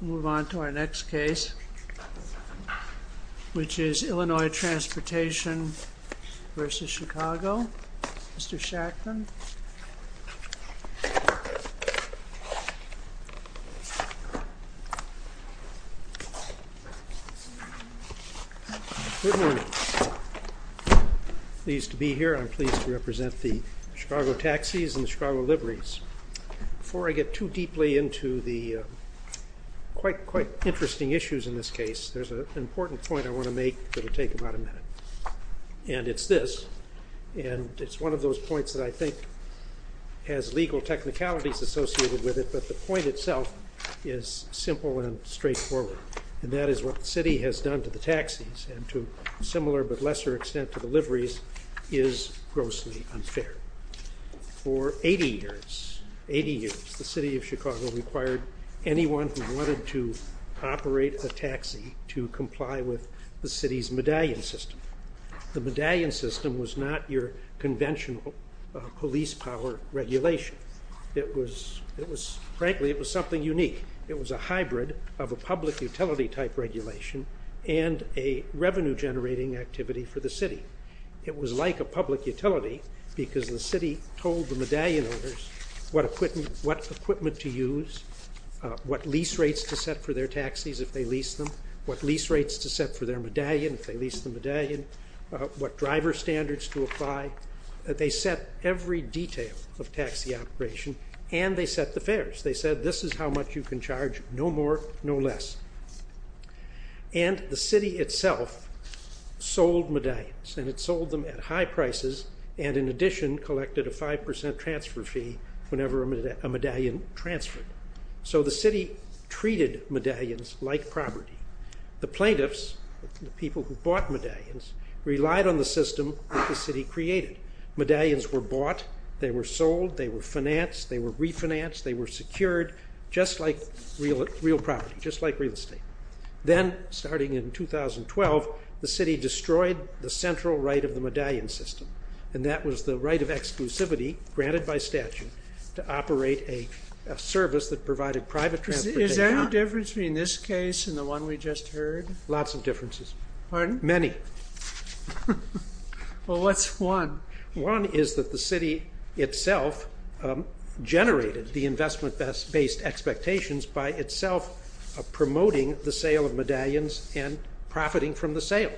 We'll move on to our next case, which is Illinois Transportation v. Chicago. Mr. Shachtman. Good morning. I'm pleased to be here. I'm pleased to represent the Chicago Taxis and the Chicago Libraries. Before I get too deeply into the quite interesting issues in this case, there's an important point I want to make that will take about a minute. And it's this, and it's one of those points that I think has legal technicalities associated with it, but the point itself is simple and straightforward. And that is what the city has done to the taxis, and to a similar but lesser extent to the liveries, is grossly unfair. For 80 years, the city of Chicago required anyone who wanted to operate a taxi to comply with the city's medallion system. The medallion system was not your conventional police power regulation. Frankly, it was something unique. It was a hybrid of a public utility type regulation and a revenue generating activity for the city. It was like a public utility because the city told the medallion owners what equipment to use, what lease rates to set for their taxis if they leased them, what lease rates to set for their medallion if they leased the medallion, what driver standards to apply. They set every detail of taxi operation, and they set the fares. They said, this is how much you can charge, no more, no less. And the city itself sold medallions, and it sold them at high prices, and in addition collected a 5% transfer fee whenever a medallion transferred. So the city treated medallions like property. The plaintiffs, the people who bought medallions, relied on the system that the city created. Medallions were bought, they were sold, they were financed, they were refinanced, they were secured, just like real property, just like real estate. Then, starting in 2012, the city destroyed the central right of the medallion system, and that was the right of exclusivity, granted by statute, to operate a service that provided private transportation. Is there any difference between this case and the one we just heard? Lots of differences. Pardon? Many. Well, what's one? One is that the city itself generated the investment-based expectations by itself promoting the sale of medallions and profiting from the sale.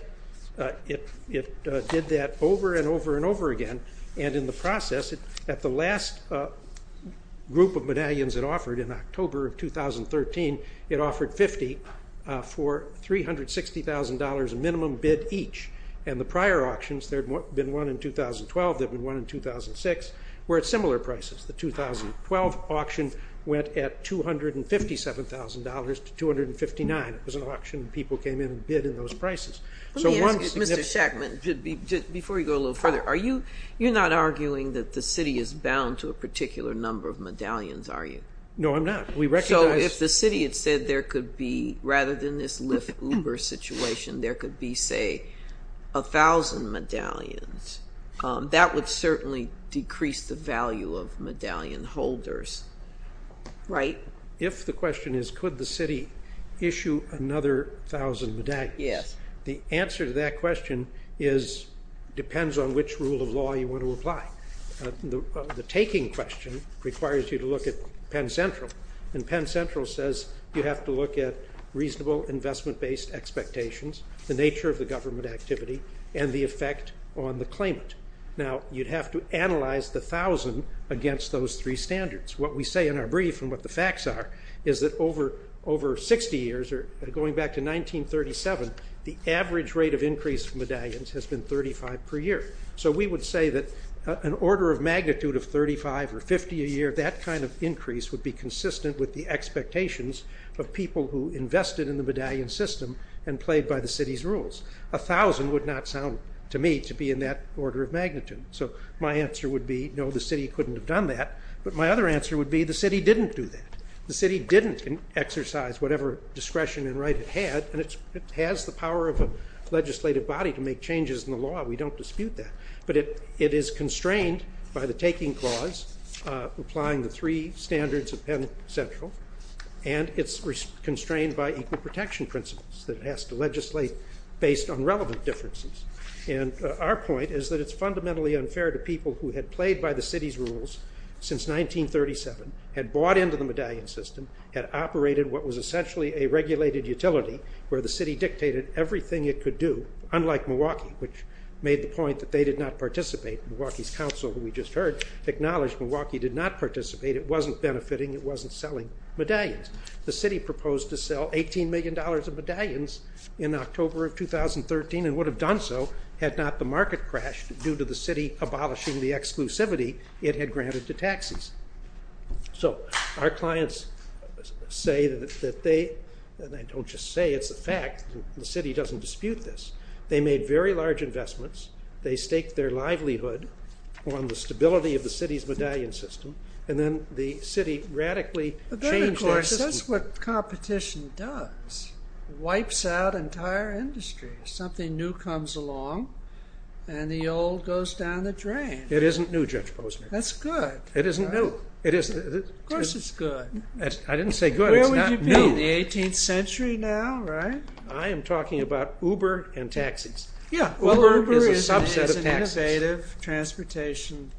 It did that over and over and over again, and in the process, at the last group of medallions it offered in October of 2013, it offered 50 for $360,000 minimum bid each. And the prior auctions, there had been one in 2012, there had been one in 2006, were at similar prices. The 2012 auction went at $257,000 to $259,000. It was an auction, people came in and bid in those prices. Let me ask you, Mr. Shackman, before you go a little further, you're not arguing that the city is bound to a particular number of medallions, are you? No, I'm not. So if the city had said there could be, rather than this Lyft-Uber situation, there could be, say, a thousand medallions, that would certainly decrease the value of medallion holders, right? If the question is could the city issue another thousand medallions, the answer to that question depends on which rule of law you want to apply. The taking question requires you to look at Penn Central, and Penn Central says you have to look at reasonable investment-based expectations, the nature of the government activity, and the effect on the claimant. Now, you'd have to analyze the thousand against those three standards. What we say in our brief and what the facts are is that over 60 years, going back to 1937, the average rate of increase in medallions has been 35 per year. So we would say that an order of magnitude of 35 or 50 a year, that kind of increase would be consistent with the expectations of people who invested in the medallion system and played by the city's rules. A thousand would not sound to me to be in that order of magnitude. So my answer would be no, the city couldn't have done that. But my other answer would be the city didn't do that. The city didn't exercise whatever discretion and right it had, and it has the power of a legislative body to make changes in the law. We don't dispute that. But it is constrained by the taking clause applying the three standards of Penn Central, and it's constrained by equal protection principles that it has to legislate based on relevant differences. And our point is that it's fundamentally unfair to people who had played by the city's rules since 1937, had bought into the medallion system, had operated what was essentially a regulated utility where the city dictated everything it could do, unlike Milwaukee, which made the point that they did not participate. Milwaukee's council, who we just heard, acknowledged Milwaukee did not participate. It wasn't benefiting. It wasn't selling medallions. The city proposed to sell $18 million of medallions in October of 2013 and would have done so had not the market crashed due to the city abolishing the exclusivity it had granted to taxis. So our clients say that they, and I don't just say, it's a fact, the city doesn't dispute this. They made very large investments. They staked their livelihood on the stability of the city's medallion system, and then the city radically changed their system. But then, of course, that's what competition does. Wipes out entire industries. Something new comes along, and the old goes down the drain. It isn't new, Judge Posner. That's good. It isn't new. Of course it's good. I didn't say good. It's not new. Where would you be in the 18th century now, right? I am talking about Uber and taxis. Uber is a subset of taxis. Uber is an innovative transportation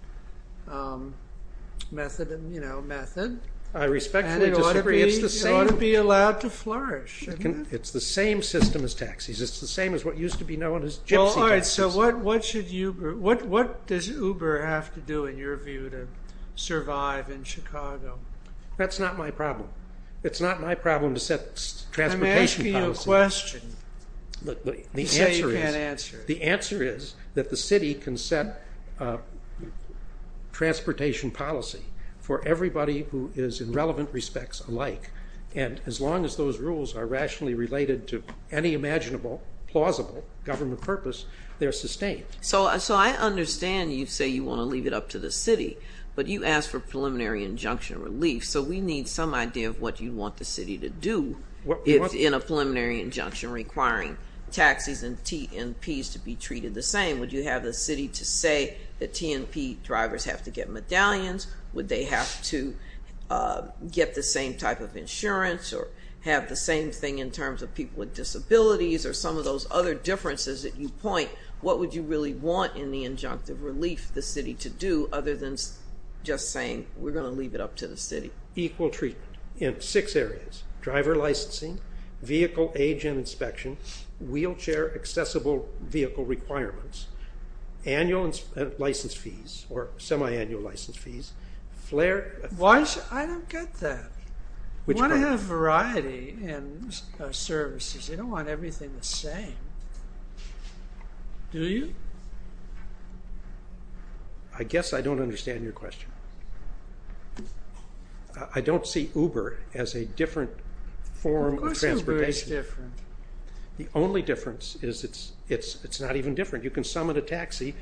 method. I respectfully disagree. It ought to be allowed to flourish. It's the same as what used to be known as gypsy taxis. All right, so what does Uber have to do, in your view, to survive in Chicago? That's not my problem. It's not my problem to set transportation policy. I'm asking you a question. You say you can't answer it. The answer is that the city can set transportation policy for everybody who is, in relevant respects, alike. And as long as those rules are rationally related to any imaginable, plausible government purpose, they're sustained. So I understand you say you want to leave it up to the city, but you asked for preliminary injunction relief. So we need some idea of what you want the city to do in a preliminary injunction requiring taxis and TNPs to be treated the same. Would you have the city to say that TNP drivers have to get medallions? Would they have to get the same type of insurance or have the same thing in terms of people with disabilities or some of those other differences that you point? What would you really want in the injunctive relief the city to do other than just saying we're going to leave it up to the city? Equal treatment in six areas. Driver licensing, vehicle age and inspection, wheelchair accessible vehicle requirements, annual license fees or semi-annual license fees. Why should I get that? You want to have variety in services. You don't want everything the same. Do you? I guess I don't understand your question. I don't see Uber as a different form of transportation. Of course Uber is different. The only difference is it's not even different. You can summon a taxi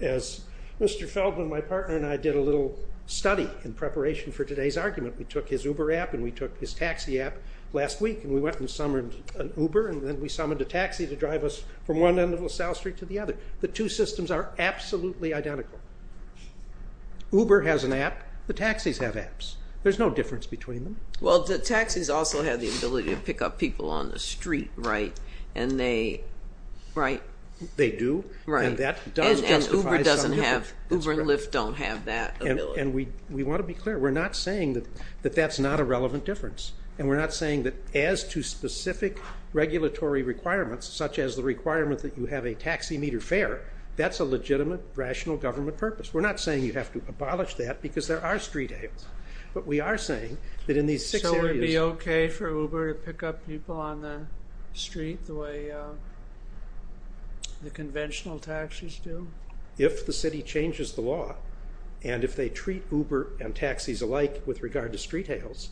as Mr. Feldman, my partner, and I did a little study in preparation for today's argument. We took his Uber app and we took his taxi app last week and we went and summoned an Uber and then we summoned a taxi to drive us from one end of LaSalle Street to the other. The two systems are absolutely identical. Uber has an app. The taxis have apps. There's no difference between them. Well, the taxis also have the ability to pick up people on the street, right? They do. And Uber and Lyft don't have that ability. And we want to be clear. We're not saying that that's not a relevant difference. And we're not saying that as to specific regulatory requirements, such as the requirement that you have a taxi meter fare, that's a legitimate, rational government purpose. We're not saying you have to abolish that because there are street areas. So it would be okay for Uber to pick up people on the street the way the conventional taxis do? If the city changes the law and if they treat Uber and taxis alike with regard to street hails,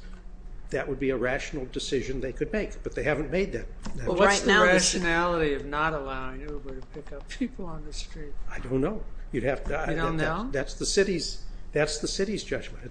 that would be a rational decision they could make. But they haven't made that. Well, what's the rationality of not allowing Uber to pick up people on the street? I don't know. You don't know? That's the city's judgment.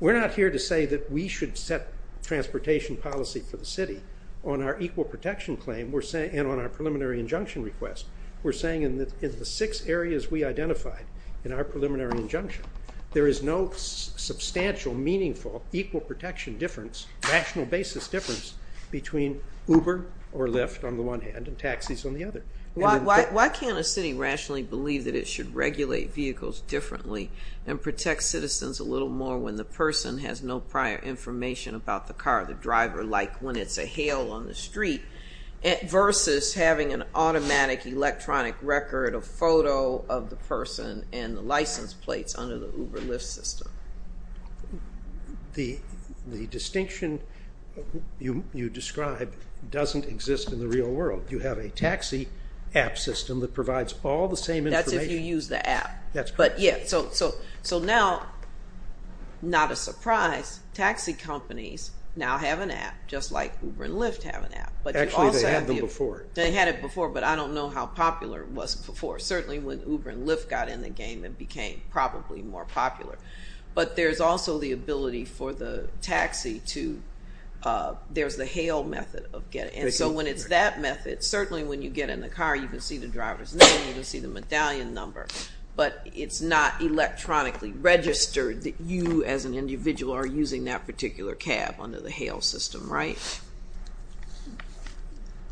We're not here to say that we should set transportation policy for the city on our equal protection claim and on our preliminary injunction request. We're saying in the six areas we identified in our preliminary injunction, there is no substantial, meaningful, equal protection difference, rational basis difference, between Uber or Lyft on the one hand and taxis on the other. Why can't a city rationally believe that it should regulate vehicles differently and protect citizens a little more when the person has no prior information about the car, the driver, like when it's a hail on the street, versus having an automatic, electronic record, a photo of the person and the license plates under the Uber-Lyft system? The distinction you describe doesn't exist in the real world. You have a taxi app system that provides all the same information. That's if you use the app. That's correct. So now, not a surprise, taxi companies now have an app, just like Uber and Lyft have an app. Actually, they had them before. They had it before, but I don't know how popular it was before, certainly when Uber and Lyft got in the game and became probably more popular. But there's also the ability for the taxi to, there's the hail method of getting, and so when it's that method, certainly when you get in the car, you can see the driver's name, you can see the medallion number, but it's not electronically registered that you as an individual are using that particular cab under the hail system, right?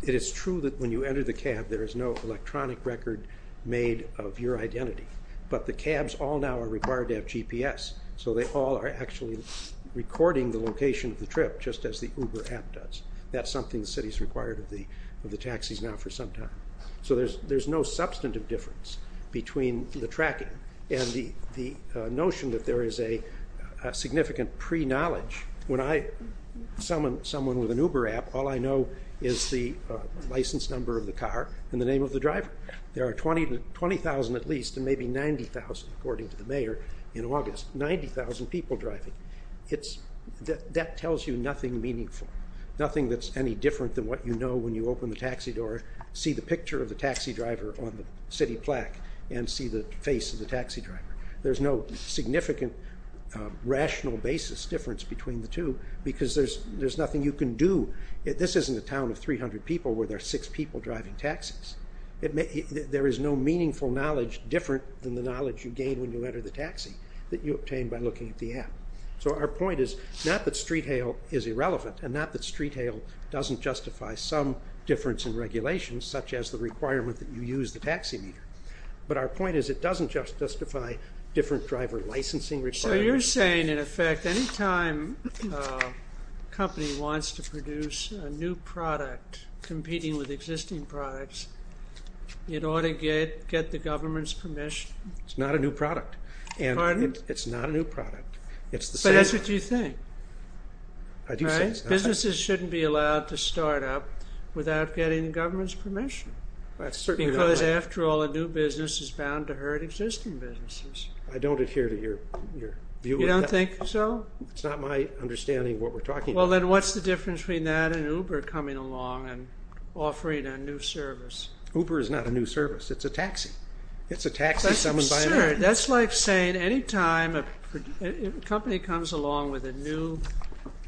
It is true that when you enter the cab, there is no electronic record made of your identity, but the cabs all now are required to have GPS, so they all are actually recording the location of the trip, just as the Uber app does. That's something the city's required of the taxis now for some time. So there's no substantive difference between the tracking and the notion that there is a significant pre-knowledge. When I summon someone with an Uber app, all I know is the license number of the car and the name of the driver. There are 20,000 at least, and maybe 90,000, according to the mayor, in August, 90,000 people driving. That tells you nothing meaningful, nothing that's any different than what you know when you open the taxi door, see the picture of the taxi driver on the city plaque, and see the face of the taxi driver. There's no significant rational basis difference between the two, because there's nothing you can do. This isn't a town of 300 people where there are six people driving taxis. There is no meaningful knowledge different than the knowledge you gain when you enter the taxi that you obtain by looking at the app. So our point is not that street hail is irrelevant, and not that street hail doesn't justify some difference in regulations, such as the requirement that you use the taxi meter, but our point is it doesn't just justify different driver licensing requirements. So you're saying, in effect, any time a company wants to produce a new product competing with existing products, it ought to get the government's permission? It's not a new product. Pardon? It's not a new product. But that's what you think. I do say that. Businesses shouldn't be allowed to start up without getting the government's permission, because, after all, a new business is bound to hurt existing businesses. I don't adhere to your view of that. You don't think so? It's not my understanding of what we're talking about. Well, then what's the difference between that and Uber coming along and offering a new service? Uber is not a new service. It's a taxi. It's a taxi someone's buying. Sure. That's like saying any time a company comes along with a new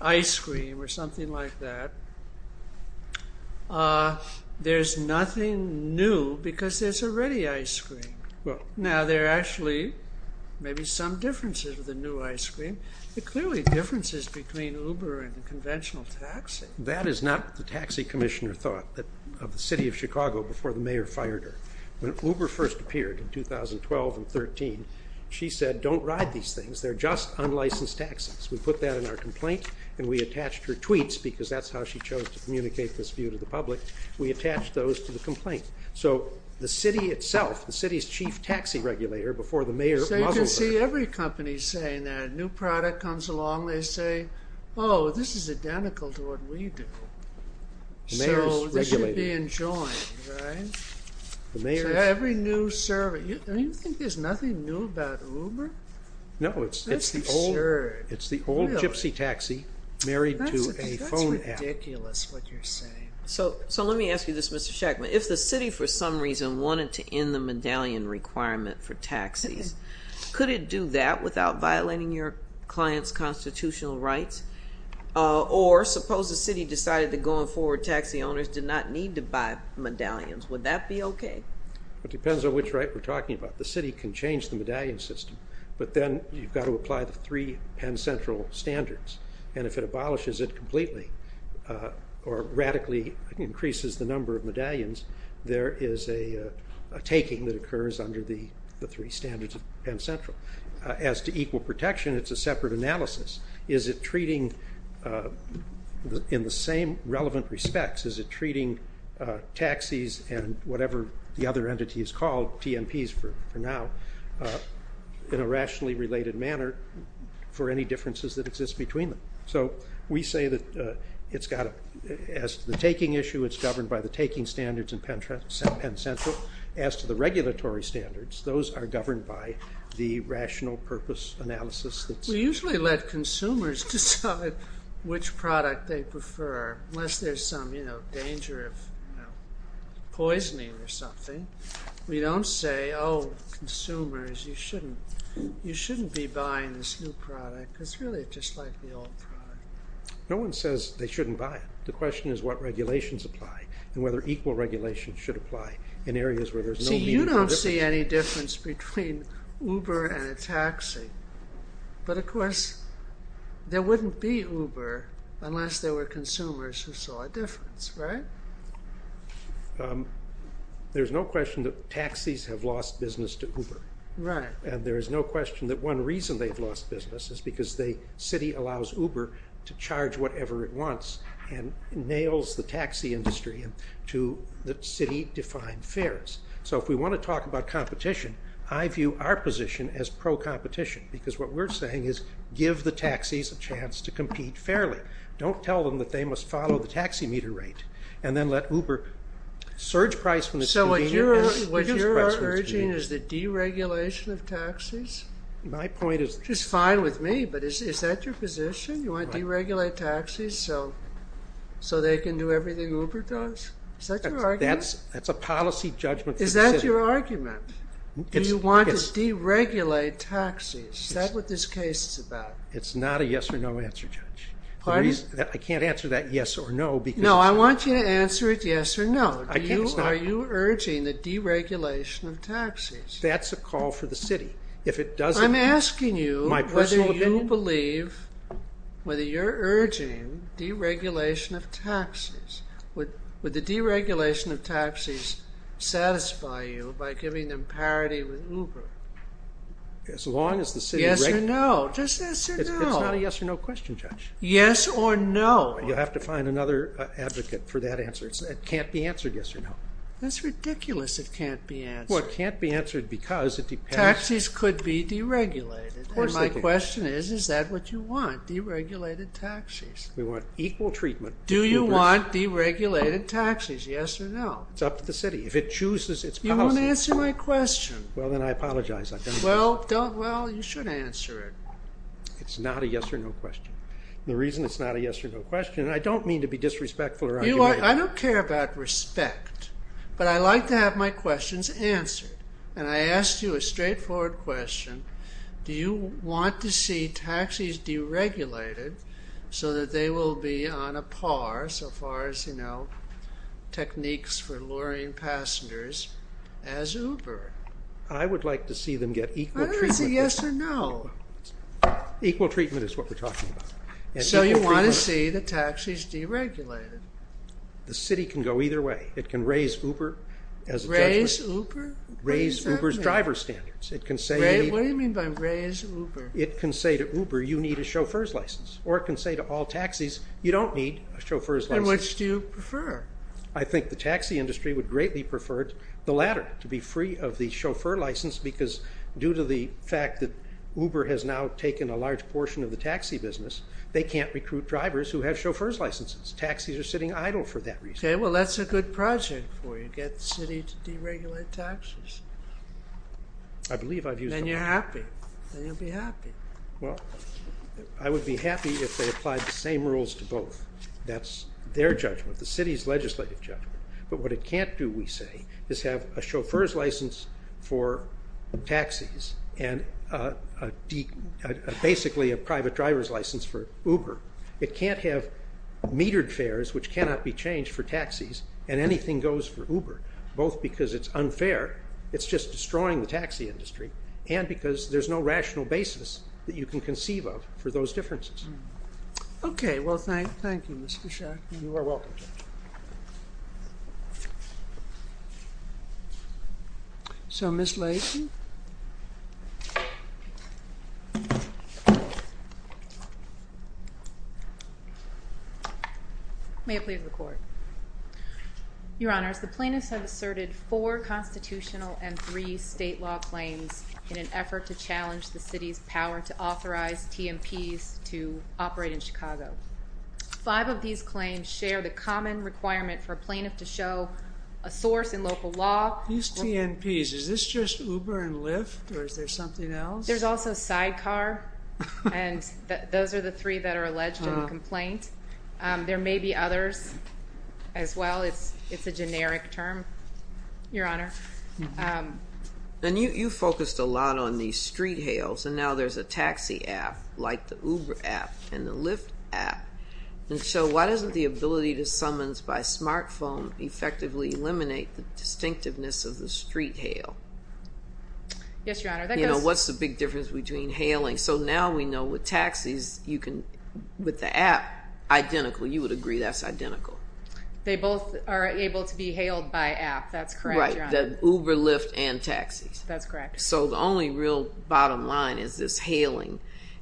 ice cream or something like that, there's nothing new because there's already ice cream. Now, there are actually maybe some differences with the new ice cream, but clearly differences between Uber and a conventional taxi. That is not what the taxi commissioner thought of the city of Chicago before the mayor fired her. When Uber first appeared in 2012 and 2013, she said, don't ride these things. They're just unlicensed taxis. We put that in our complaint, and we attached her tweets because that's how she chose to communicate this view to the public. We attached those to the complaint. So the city itself, the city's chief taxi regulator before the mayor wasn't there. So you can see every company saying that. A new product comes along. They say, oh, this is identical to what we do. So this should be enjoined, right? Every new service. Don't you think there's nothing new about Uber? No, it's the old gypsy taxi married to a phone app. That's ridiculous what you're saying. So let me ask you this, Mr. Schechtman. If the city for some reason wanted to end the medallion requirement for taxis, could it do that without violating your client's constitutional rights? Or suppose the city decided that going forward taxi owners did not need to buy medallions. Would that be okay? It depends on which right we're talking about. The city can change the medallion system, but then you've got to apply the three Penn Central standards. And if it abolishes it completely or radically increases the number of medallions, there is a taking that occurs under the three standards of Penn Central. As to equal protection, it's a separate analysis. Is it treating, in the same relevant respects, is it treating taxis and whatever the other entity is called, TNPs for now, in a rationally related manner for any differences that exist between them? So we say that as to the taking issue, it's governed by the taking standards in Penn Central. As to the regulatory standards, those are governed by the rational purpose analysis. We usually let consumers decide which product they prefer, unless there's some danger of poisoning or something. We don't say, oh, consumers, you shouldn't be buying this new product. It's really just like the old product. No one says they shouldn't buy it. The question is what regulations apply and whether equal regulation should apply in areas where there's no meaningful difference. between Uber and a taxi. But of course, there wouldn't be Uber unless there were consumers who saw a difference, right? There's no question that taxis have lost business to Uber. Right. And there is no question that one reason they've lost business is because the city allows Uber to charge whatever it wants and nails the taxi industry to the city-defined fares. So if we want to talk about competition, I view our position as pro-competition. Because what we're saying is give the taxis a chance to compete fairly. Don't tell them that they must follow the taxi meter rate and then let Uber surge price when it's convenient. So what you are urging is the deregulation of taxis? My point is… Which is fine with me, but is that your position? You want to deregulate taxis so they can do everything Uber does? Is that your argument? That's a policy judgment for the city. Is that your argument? Do you want to deregulate taxis? Is that what this case is about? It's not a yes or no answer, Judge. I can't answer that yes or no because… No, I want you to answer it yes or no. Are you urging the deregulation of taxis? That's a call for the city. If it doesn't… I'm asking you whether you believe, whether you're urging deregulation of taxis. Would the deregulation of taxis satisfy you by giving them parity with Uber? As long as the city… Yes or no. Just yes or no. It's not a yes or no question, Judge. Yes or no. You'll have to find another advocate for that answer. It can't be answered yes or no. That's ridiculous it can't be answered. Well, it can't be answered because it depends… Taxis could be deregulated. And my question is, is that what you want? Deregulated taxis. We want equal treatment. Do you want deregulated taxis, yes or no? It's up to the city. If it chooses its policy… You won't answer my question. Well, then I apologize. Well, you should answer it. It's not a yes or no question. The reason it's not a yes or no question, and I don't mean to be disrespectful or… I don't care about respect, but I like to have my questions answered. And I asked you a straightforward question. Do you want to see taxis deregulated so that they will be on a par, so far as, you know, techniques for luring passengers as Uber? I would like to see them get equal treatment. I don't see a yes or no. Equal treatment is what we're talking about. So you want to see the taxis deregulated. The city can go either way. It can raise Uber as a judgment. Raise Uber? Raise Uber's driver standards. What do you mean by raise Uber? It can say to Uber, you need a chauffeur's license. Or it can say to all taxis, you don't need a chauffeur's license. And which do you prefer? I think the taxi industry would greatly prefer the latter, to be free of the chauffeur license, because due to the fact that Uber has now taken a large portion of the taxi business, they can't recruit drivers who have chauffeur's licenses. Taxis are sitting idle for that reason. Okay, well, that's a good project for you. Get the city to deregulate taxis. Then you're happy. Then you'll be happy. Well, I would be happy if they applied the same rules to both. That's their judgment. The city's legislative judgment. But what it can't do, we say, is have a chauffeur's license for taxis and basically a private driver's license for Uber. It can't have metered fares, which cannot be changed for taxis, and anything goes for Uber, both because it's unfair. It's just destroying the taxi industry, and because there's no rational basis that you can conceive of for those differences. Okay. Well, thank you, Mr. Schacht. You are welcome. So, Ms. Lacy? May I please record? Your Honors, the plaintiffs have asserted four constitutional and three state law claims in an effort to challenge the city's power to authorize TNPs to operate in Chicago. Five of these claims share the common requirement for a plaintiff to show a source in local law. These TNPs, is this just Uber and Lyft, or is there something else? There's also Sidecar, and those are the three that are alleged in the complaint. There may be others as well. It's a generic term, Your Honor. And you focused a lot on the street hails, and now there's a taxi app like the Uber app and the Lyft app. And so why doesn't the ability to summons by smartphone effectively eliminate the distinctiveness of the street hail? Yes, Your Honor. You know, what's the big difference between hailing? So now we know with taxis, you can, with the app, identical. You would agree that's identical. They both are able to be hailed by app. That's correct, Your Honor. Right, the Uber, Lyft, and taxis. That's correct. So the only real bottom line is this hailing.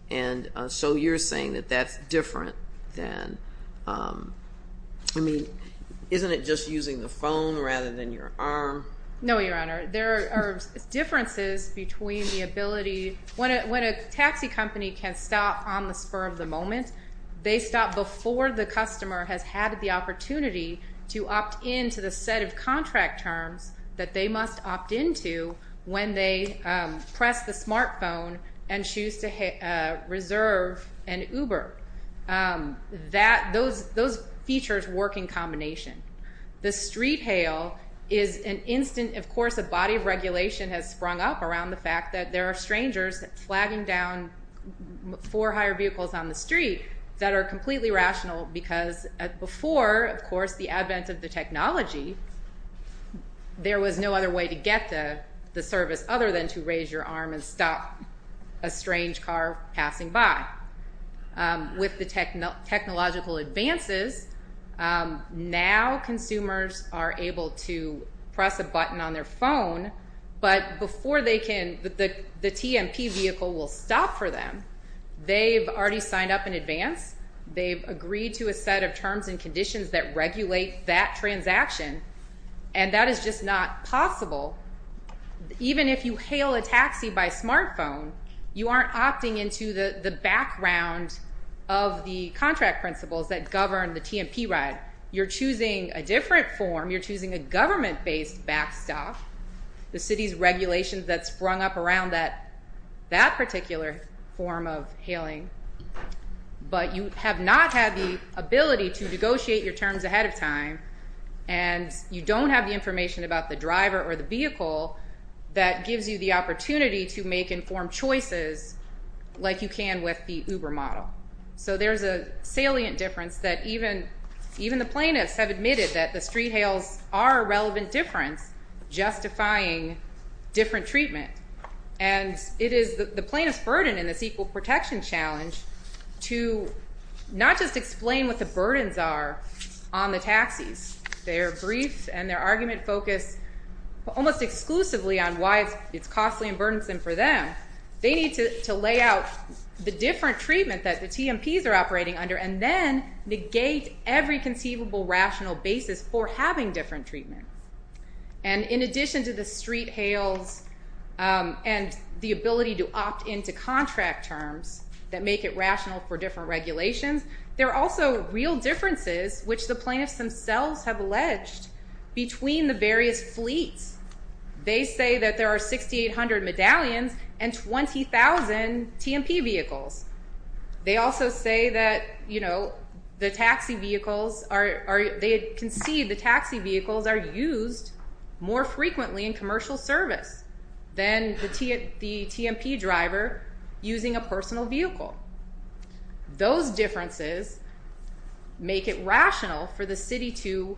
And so you're saying that that's different than, I mean, isn't it just using the phone rather than your arm? No, Your Honor. There are differences between the ability. When a taxi company can stop on the spur of the moment, they stop before the customer has had the opportunity to opt in to the set of contract terms that they must opt into when they press the smartphone and choose to reserve an Uber. Those features work in combination. The street hail is an instant, of course, a body of regulation has sprung up around the fact that there are strangers flagging down four hire vehicles on the street that are completely rational because before, of course, the advent of the technology, there was no other way to get the service other than to raise your arm and stop a strange car passing by. With the technological advances, now consumers are able to press a button on their phone, but before they can, the TMP vehicle will stop for them. They've already signed up in advance. They've agreed to a set of terms and conditions that regulate that transaction, and that is just not possible. Even if you hail a taxi by smartphone, you aren't opting into the background of the contract principles that govern the TMP ride. You're choosing a different form. You're choosing a government-based backstop, the city's regulations that sprung up around that particular form of hailing, but you have not had the ability to negotiate your terms ahead of time, and you don't have the information about the driver or the vehicle that gives you the opportunity to make informed choices like you can with the Uber model. So there's a salient difference that even the plaintiffs have admitted that the street hails are a relevant difference, justifying different treatment, and it is the plaintiff's burden in this equal protection challenge to not just explain what the burdens are on the taxis. Their grief and their argument focus almost exclusively on why it's costly and burdensome for them. They need to lay out the different treatment that the TMPs are operating under and then negate every conceivable rational basis for having different treatment. And in addition to the street hails and the ability to opt into contract terms that make it rational for different regulations, there are also real differences which the plaintiffs themselves have alleged between the various fleets. They say that there are 6,800 medallions and 20,000 TMP vehicles. They also say that the taxi vehicles are used more frequently in commercial service than the TMP driver using a personal vehicle. Those differences make it rational for the city to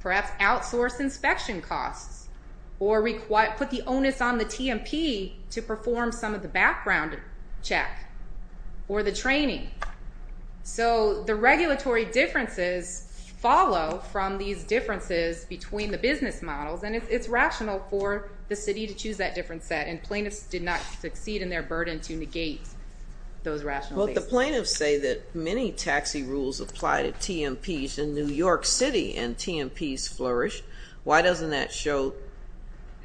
perhaps outsource inspection costs or put the onus on the TMP to perform some of the background check or the training. So the regulatory differences follow from these differences between the business models, and it's rational for the city to choose that different set, and plaintiffs did not succeed in their burden to negate those rational bases. But the plaintiffs say that many taxi rules apply to TMPs in New York City and TMPs flourish. Why doesn't that show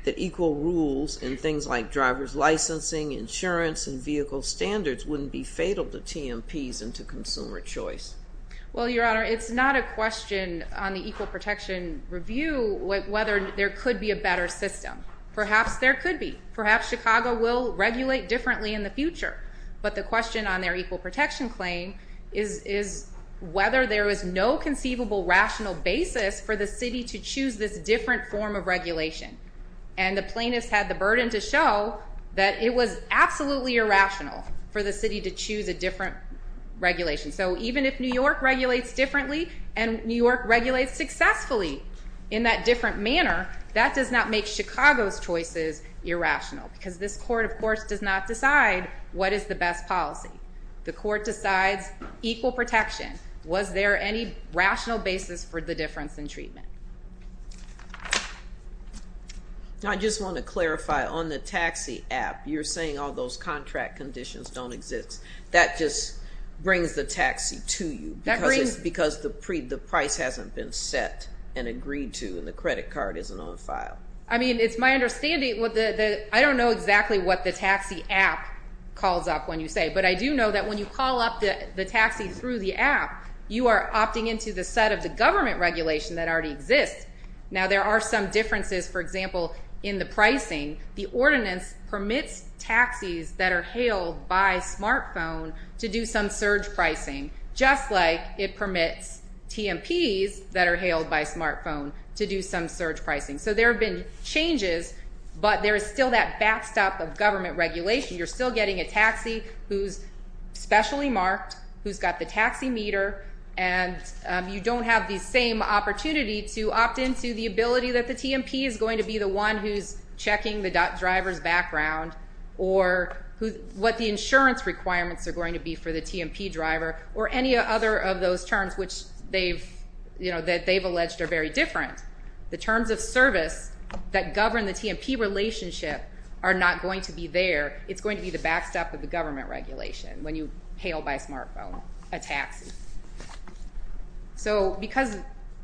that equal rules in things like driver's licensing, insurance, and vehicle standards wouldn't be fatal to TMPs and to consumer choice? Well, Your Honor, it's not a question on the Equal Protection Review whether there could be a better system. Perhaps there could be. Perhaps Chicago will regulate differently in the future. But the question on their equal protection claim is whether there is no conceivable rational basis for the city to choose this different form of regulation. And the plaintiffs had the burden to show that it was absolutely irrational for the city to choose a different regulation. So even if New York regulates differently and New York regulates successfully in that different manner, that does not make Chicago's choices irrational because this court, of course, does not decide what is the best policy. The court decides equal protection. Was there any rational basis for the difference in treatment? I just want to clarify, on the taxi app, you're saying all those contract conditions don't exist. That just brings the taxi to you because the price hasn't been set and agreed to and the credit card isn't on file. I mean, it's my understanding. I don't know exactly what the taxi app calls up when you say it, but I do know that when you call up the taxi through the app, you are opting into the set of the government regulation that already exists. Now there are some differences, for example, in the pricing. The ordinance permits taxis that are hailed by smartphone to do some surge pricing, just like it permits TMPs that are hailed by smartphone to do some surge pricing. So there have been changes, but there is still that backstop of government regulation. You're still getting a taxi who's specially marked, who's got the taxi meter, and you don't have the same opportunity to opt into the ability that the TMP is going to be the one who's checking the driver's background or what the insurance requirements are going to be for the TMP driver or any other of those terms that they've alleged are very different. The terms of service that govern the TMP relationship are not going to be there. It's going to be the backstop of the government regulation when you hail by smartphone a taxi. So because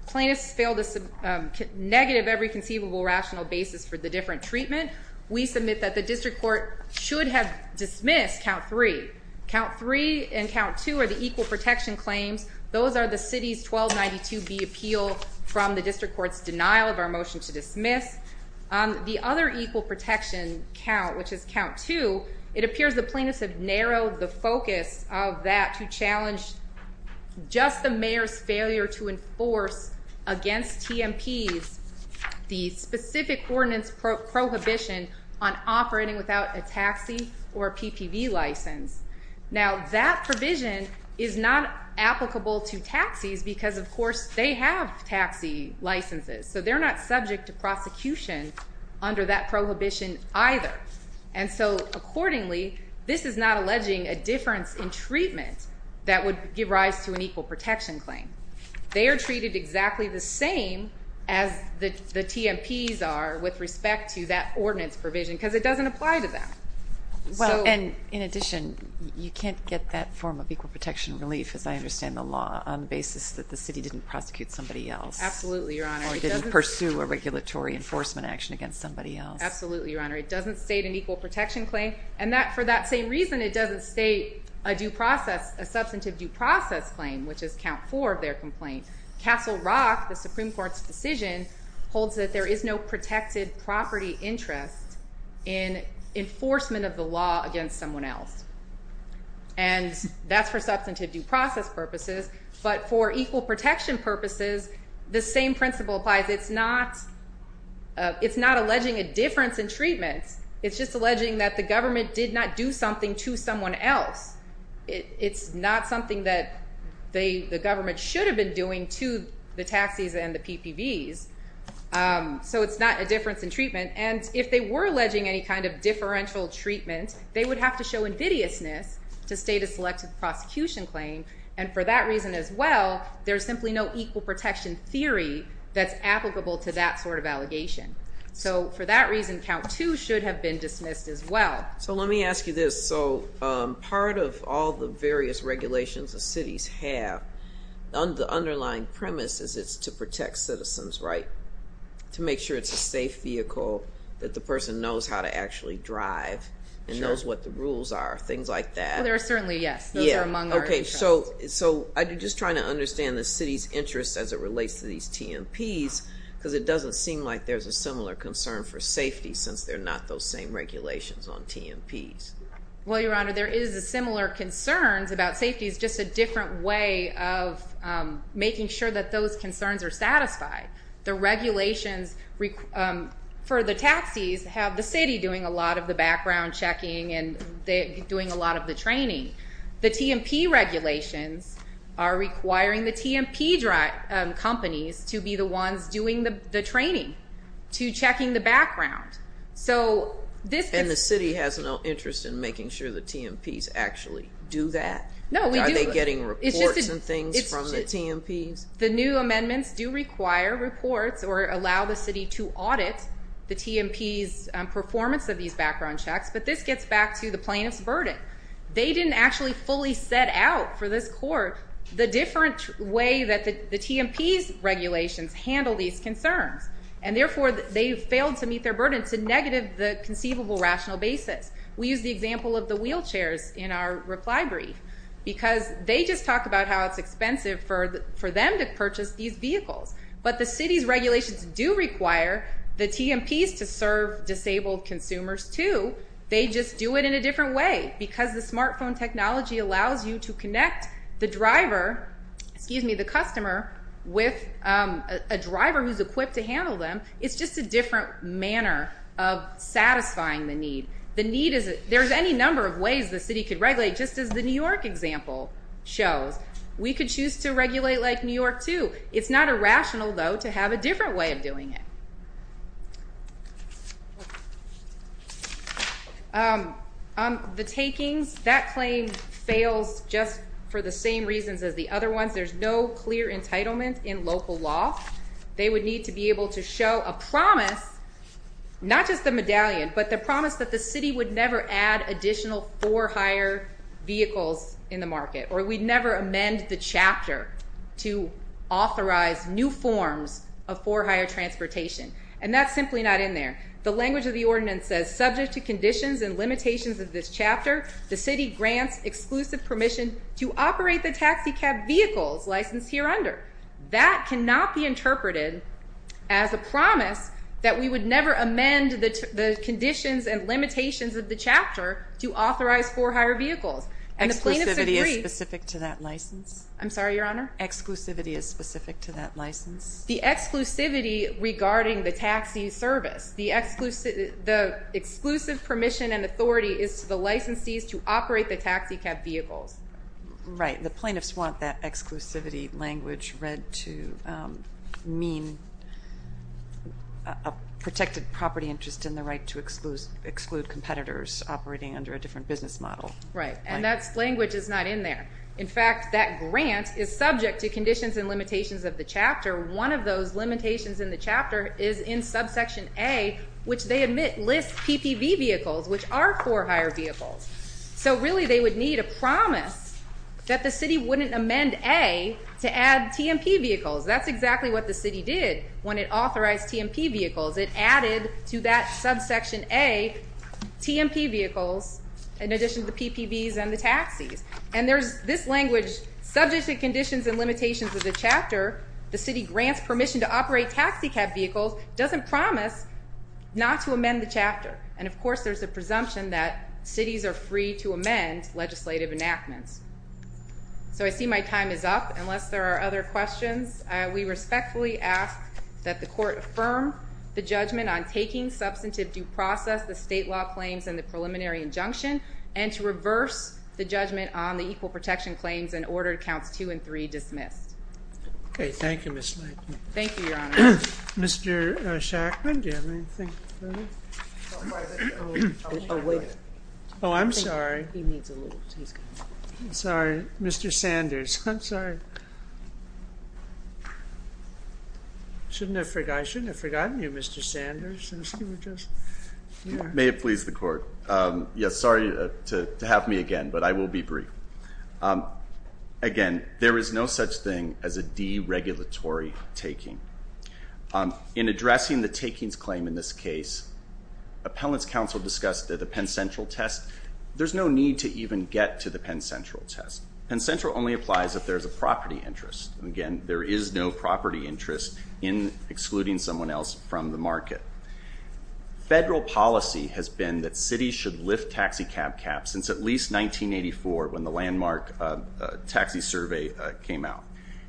plaintiffs fail to negative every conceivable rational basis for the different treatment, we submit that the district court should have dismissed count three. Count three and count two are the equal protection claims. Those are the city's 1292B appeal from the district court's denial of our motion to dismiss. The other equal protection count, which is count two, it appears the plaintiffs have narrowed the focus of that to challenge just the mayor's failure to enforce against TMPs the specific ordinance prohibition on operating without a taxi or a PPV license. Now, that provision is not applicable to taxis because, of course, they have taxi licenses. So they're not subject to prosecution under that prohibition either. And so accordingly, this is not alleging a difference in treatment that would give rise to an equal protection claim. They are treated exactly the same as the TMPs are with respect to that ordinance provision because it doesn't apply to them. Well, and in addition, you can't get that form of equal protection relief, as I understand the law, on the basis that the city didn't prosecute somebody else. Absolutely, Your Honor. Or didn't pursue a regulatory enforcement action against somebody else. Absolutely, Your Honor. It doesn't state an equal protection claim. And for that same reason, it doesn't state a substantive due process claim, which is count four of their complaint. Castle Rock, the Supreme Court's decision, holds that there is no protected property interest in enforcement of the law against someone else. And that's for substantive due process purposes. But for equal protection purposes, the same principle applies. It's not alleging a difference in treatment. It's just alleging that the government did not do something to someone else. It's not something that the government should have been doing to the taxis and the PPVs. So it's not a difference in treatment. And if they were alleging any kind of differential treatment, they would have to show invidiousness to state a selective prosecution claim. And for that reason as well, there's simply no equal protection theory that's applicable to that sort of allegation. So for that reason, count two should have been dismissed as well. So let me ask you this. So part of all the various regulations the cities have, the underlying premise is it's to protect citizens, right? To make sure it's a safe vehicle, that the person knows how to actually drive and knows what the rules are, things like that. Well, there are certainly, yes. Those are among our interests. So I'm just trying to understand the city's interest as it relates to these TMPs, because it doesn't seem like there's a similar concern for safety since they're not those same regulations on TMPs. Well, Your Honor, there is similar concerns about safety. It's just a different way of making sure that those concerns are satisfied. The regulations for the taxis have the city doing a lot of the background checking and doing a lot of the training. The TMP regulations are requiring the TMP companies to be the ones doing the training, to checking the background. And the city has no interest in making sure the TMPs actually do that? No, we do. Are they getting reports and things from the TMPs? The new amendments do require reports or allow the city to audit the TMPs' performance of these background checks, but this gets back to the plaintiff's burden. They didn't actually fully set out for this court the different way that the TMPs' regulations handle these concerns, and therefore they failed to meet their burden to negative the conceivable rational basis. We use the example of the wheelchairs in our reply brief because they just talk about how it's expensive for them to purchase these vehicles, but the city's regulations do require the TMPs to serve disabled consumers too. They just do it in a different way because the smartphone technology allows you to connect the customer with a driver who's equipped to handle them. It's just a different manner of satisfying the need. There's any number of ways the city could regulate, just as the New York example shows. We could choose to regulate like New York too. It's not irrational, though, to have a different way of doing it. The takings, that claim fails just for the same reasons as the other ones. There's no clear entitlement in local law. They would need to be able to show a promise, not just the medallion, but the promise that the city would never add additional for hire vehicles in the market, or we'd never amend the chapter to authorize new forms of for hire transportation, and that's simply not in there. The language of the ordinance says, subject to conditions and limitations of this chapter, the city grants exclusive permission to operate the taxicab vehicles licensed here under. That cannot be interpreted as a promise that we would never amend the conditions and limitations of the chapter to authorize for hire vehicles. Exclusivity is specific to that license? I'm sorry, Your Honor? Exclusivity is specific to that license? The exclusivity regarding the taxi service. The exclusive permission and authority is to the licensees to operate the taxicab vehicles. Right. The plaintiffs want that exclusivity language read to mean a protected property interest in the right to exclude competitors operating under a different business model. Right, and that language is not in there. In fact, that grant is subject to conditions and limitations of the chapter one of those limitations in the chapter is in subsection A, which they admit lists PPV vehicles, which are for hire vehicles. So really they would need a promise that the city wouldn't amend A to add TMP vehicles. That's exactly what the city did when it authorized TMP vehicles. It added to that subsection A TMP vehicles in addition to the PPVs and the taxis. And this language, subject to conditions and limitations of the chapter, the city grants permission to operate taxicab vehicles, doesn't promise not to amend the chapter. And, of course, there's a presumption that cities are free to amend legislative enactments. So I see my time is up unless there are other questions. We respectfully ask that the court affirm the judgment on taking substantive due process, the state law claims, and the preliminary injunction, and to reverse the judgment on the equal protection claims and order counts two and three dismissed. Okay. Thank you, Miss. Thank you, Your Honor. Mr. Oh, I'm sorry. Sorry, Mr. Sanders. I'm sorry. I shouldn't have forgotten you, Mr. Sanders. May it please the court. Yes. Sorry to have me again, but I will be brief. Again, there is no such thing as a deregulatory taking. In addressing the takings claim in this case, appellant's counsel discussed that the Penn Central test, there's no need to even get to the Penn Central test. Penn Central only applies if there's a property interest. And, again, there is no property interest in excluding someone else from the market. I'm going to talk about the city of Chicago, which was launched in 1984 when the landmark taxi survey came out.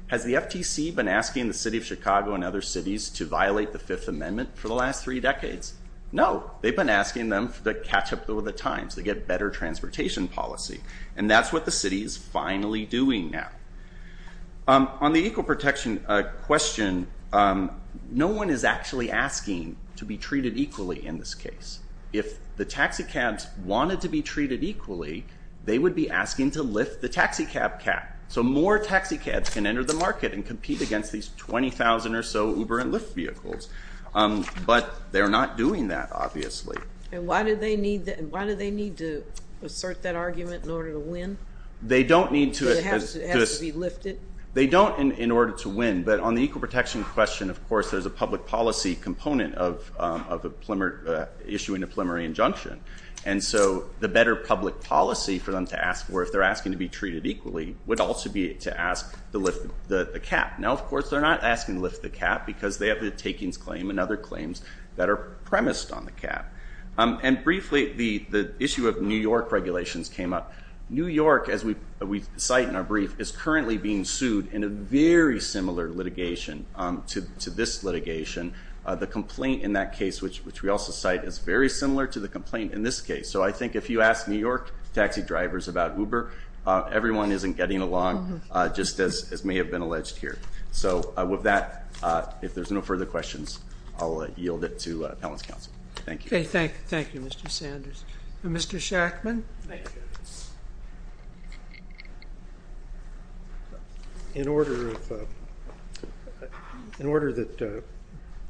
Has the FTC been asking the city of Chicago and other cities to violate the fifth amendment for the last three decades? No, they've been asking them to catch up with the times. They get better transportation policy, and that's what the city is finally doing now. On the equal protection question, no one is actually asking to be treated equally in this case. If the taxicabs wanted to be treated equally, they would be asking to lift the taxicab cap. So more taxicabs can enter the market and compete against these 20,000 or so Uber and Lyft vehicles. But they're not doing that, obviously. And why do they need to assert that argument in order to win? They don't need to. Does it have to be lifted? But on the equal protection question, of course, there's a public policy component of issuing a preliminary injunction. And so the better public policy for them to ask for, if they're asking to be treated equally, would also be to ask to lift the cap. Now, of course, they're not asking to lift the cap because they have the takings claim and other claims that are premised on the cap. And briefly, the issue of New York regulations came up. New York, as we cite in our brief, is currently being sued in a very similar litigation to this litigation. The complaint in that case, which we also cite, is very similar to the complaint in this case. So I think if you ask New York taxi drivers about Uber, everyone isn't getting along, just as may have been alleged here. So with that, if there's no further questions, I'll yield it to appellant's counsel. Thank you. Thank you, Mr. Sanders. Mr. Shackman? In order that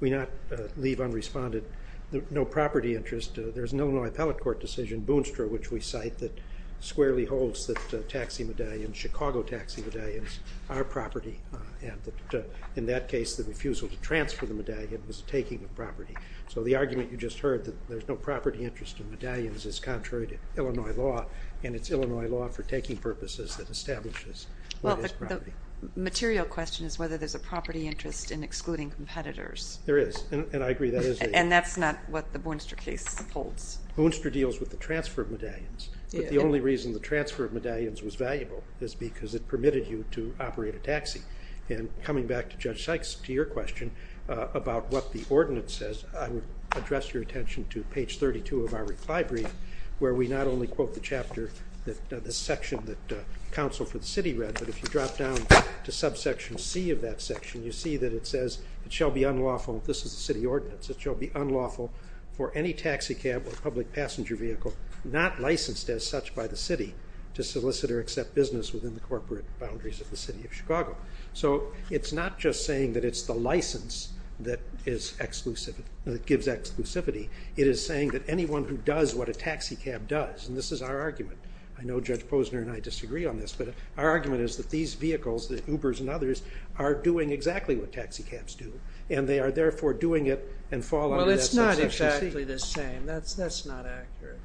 we not leave unresponded no property interest, there's an Illinois appellate court decision, Boonstra, which we cite that squarely holds that taxi medallions, Chicago taxi medallions, are property. And in that case, the refusal to transfer the medallion was taking the property. So the argument you just heard, that there's no property interest in medallions, is contrary to Illinois law, and it's Illinois law for taking purposes that establishes what is property. Well, the material question is whether there's a property interest in excluding competitors. There is, and I agree that is the case. And that's not what the Boonstra case upholds. Boonstra deals with the transfer of medallions. But the only reason the transfer of medallions was valuable is because it permitted you to operate a taxi. And coming back to Judge Sykes, to your question about what the ordinance says, I would address your attention to page 32 of our reply brief, where we not only quote the chapter, the section that counsel for the city read, but if you drop down to subsection C of that section, you see that it says, it shall be unlawful, this is the city ordinance, it shall be unlawful for any taxi cab or public passenger vehicle not licensed as such by the city to solicit or accept business within the corporate boundaries of the city of Chicago. So it's not just saying that it's the license that gives exclusivity. It is saying that anyone who does what a taxi cab does, and this is our argument, I know Judge Posner and I disagree on this, but our argument is that these vehicles, the Ubers and others, are doing exactly what taxi cabs do, and they are therefore doing it and fall under that subsection C. Well, it's not exactly the same. That's not accurate.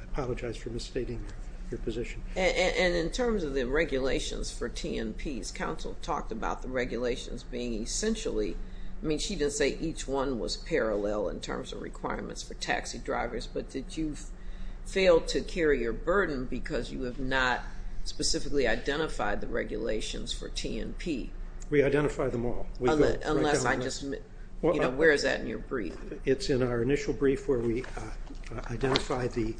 I apologize for misstating your position. And in terms of the regulations for T&Ps, counsel talked about the regulations being essentially, I mean she didn't say each one was parallel in terms of requirements for taxi drivers, but did you fail to carry your burden because you have not specifically identified the regulations for T&P? We identify them all. Unless I just, you know, where is that in your brief? It's in our initial brief where we identify the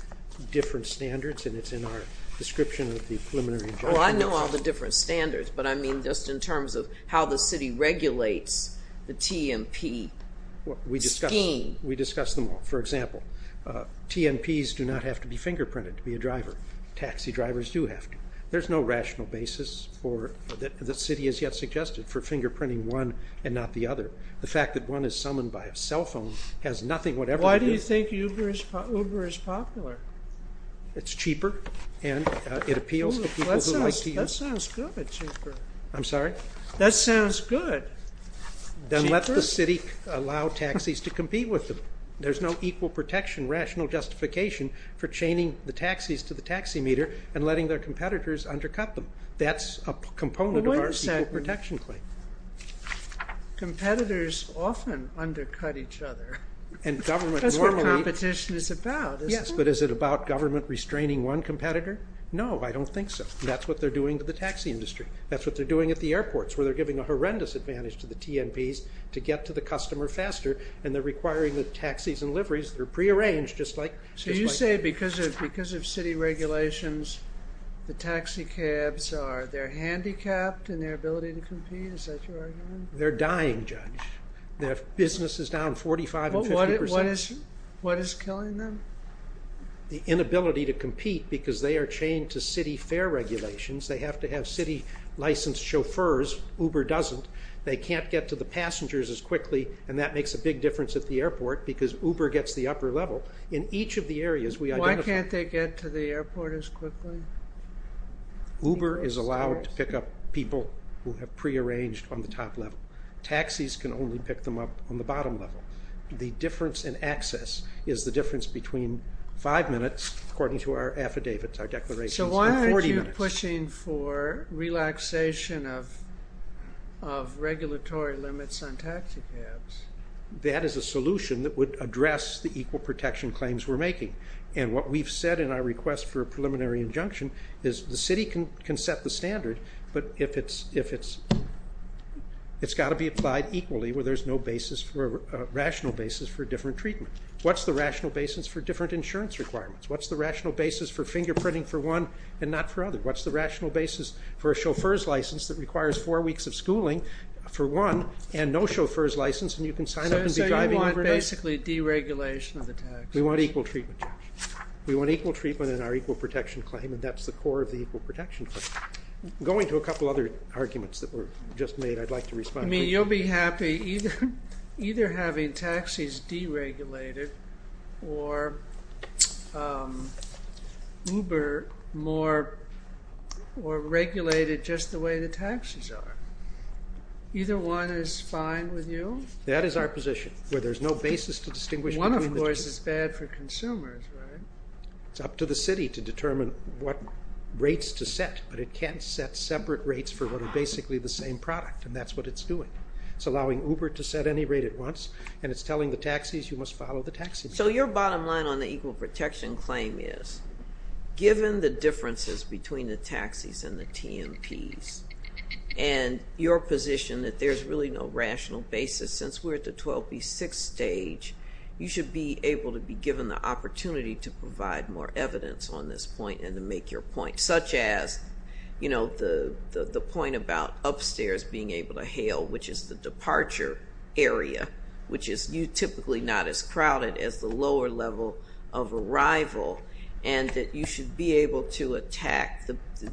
different standards, and it's in our description of the preliminary judgment. Well, I know all the different standards, but I mean just in terms of how the city regulates the T&P scheme. We discuss them all. For example, T&Ps do not have to be fingerprinted to be a driver. Taxi drivers do have to. There's no rational basis that the city has yet suggested for fingerprinting one and not the other. The fact that one is summoned by a cell phone has nothing whatever to do. Why do you think Uber is popular? It's cheaper, and it appeals to people who like to use it. That sounds good, cheaper. I'm sorry? That sounds good, cheaper. Then let the city allow taxis to compete with them. There's no equal protection rational justification for chaining the taxis to the taxi meter and letting their competitors undercut them. That's a component of our equal protection claim. Competitors often undercut each other. That's what competition is about. Yes, but is it about government restraining one competitor? No, I don't think so. That's what they're doing to the taxi industry. That's what they're doing at the airports where they're giving a horrendous advantage to the T&Ps to get to the customer faster, and they're requiring the taxis and liveries that are prearranged. So you say because of city regulations, the taxi cabs are handicapped in their ability to compete? Is that your argument? They're dying, Judge. Their business is down 45% and 50%. What is killing them? The inability to compete because they are chained to city fare regulations. They have to have city-licensed chauffeurs. Uber doesn't. They can't get to the passengers as quickly, and that makes a big difference at the airport because Uber gets the upper level. In each of the areas we identify... Why can't they get to the airport as quickly? Uber is allowed to pick up people who have prearranged on the top level. Taxis can only pick them up on the bottom level. The difference in access is the difference between 5 minutes, according to our affidavits, our declarations, and 40 minutes. So why aren't you pushing for relaxation of regulatory limits on taxi cabs? That is a solution that would address the equal protection claims we're making. And what we've said in our request for a preliminary injunction is the city can set the standard, but it's got to be applied equally where there's no rational basis for a different treatment. What's the rational basis for different insurance requirements? What's the rational basis for fingerprinting for one and not for other? What's the rational basis for a chauffeur's license that requires four weeks of schooling for one and no chauffeur's license and you can sign up and be driving overnight? So you want basically deregulation of the tax? We want equal treatment, Judge. We want equal treatment in our equal protection claim, and that's the core of the equal protection claim. Going to a couple other arguments that were just made, I'd like to respond quickly. You'll be happy either having taxis deregulated or Uber more regulated just the way the taxis are. Either one is fine with you? That is our position, where there's no basis to distinguish between the two. One, of course, is bad for consumers, right? It's up to the city to determine what rates to set, but it can't set separate rates for what are basically the same product, and that's what it's doing. It's allowing Uber to set any rate it wants, and it's telling the taxis you must follow the taxis. So your bottom line on the equal protection claim is, given the differences between the taxis and the TMPs and your position that there's really no rational basis, since we're at the 12B6 stage, you should be able to be given the opportunity to provide more evidence on this point and to make your point, such as the point about upstairs being able to hail, which is the departure area, which is typically not as crowded as the lower level of arrival, and that you should be able to attack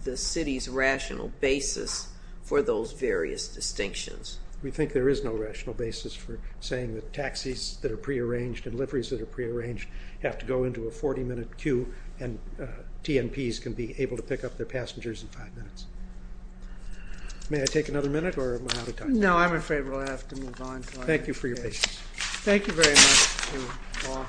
the city's rational basis for those various distinctions. We think there is no rational basis for saying that taxis that are prearranged and liveries that are prearranged have to go into a 40-minute queue and TMPs can be able to pick up their passengers in five minutes. May I take another minute, or am I out of time? No, I'm afraid we'll have to move on. Thank you for your patience. Thank you very much to all counsel.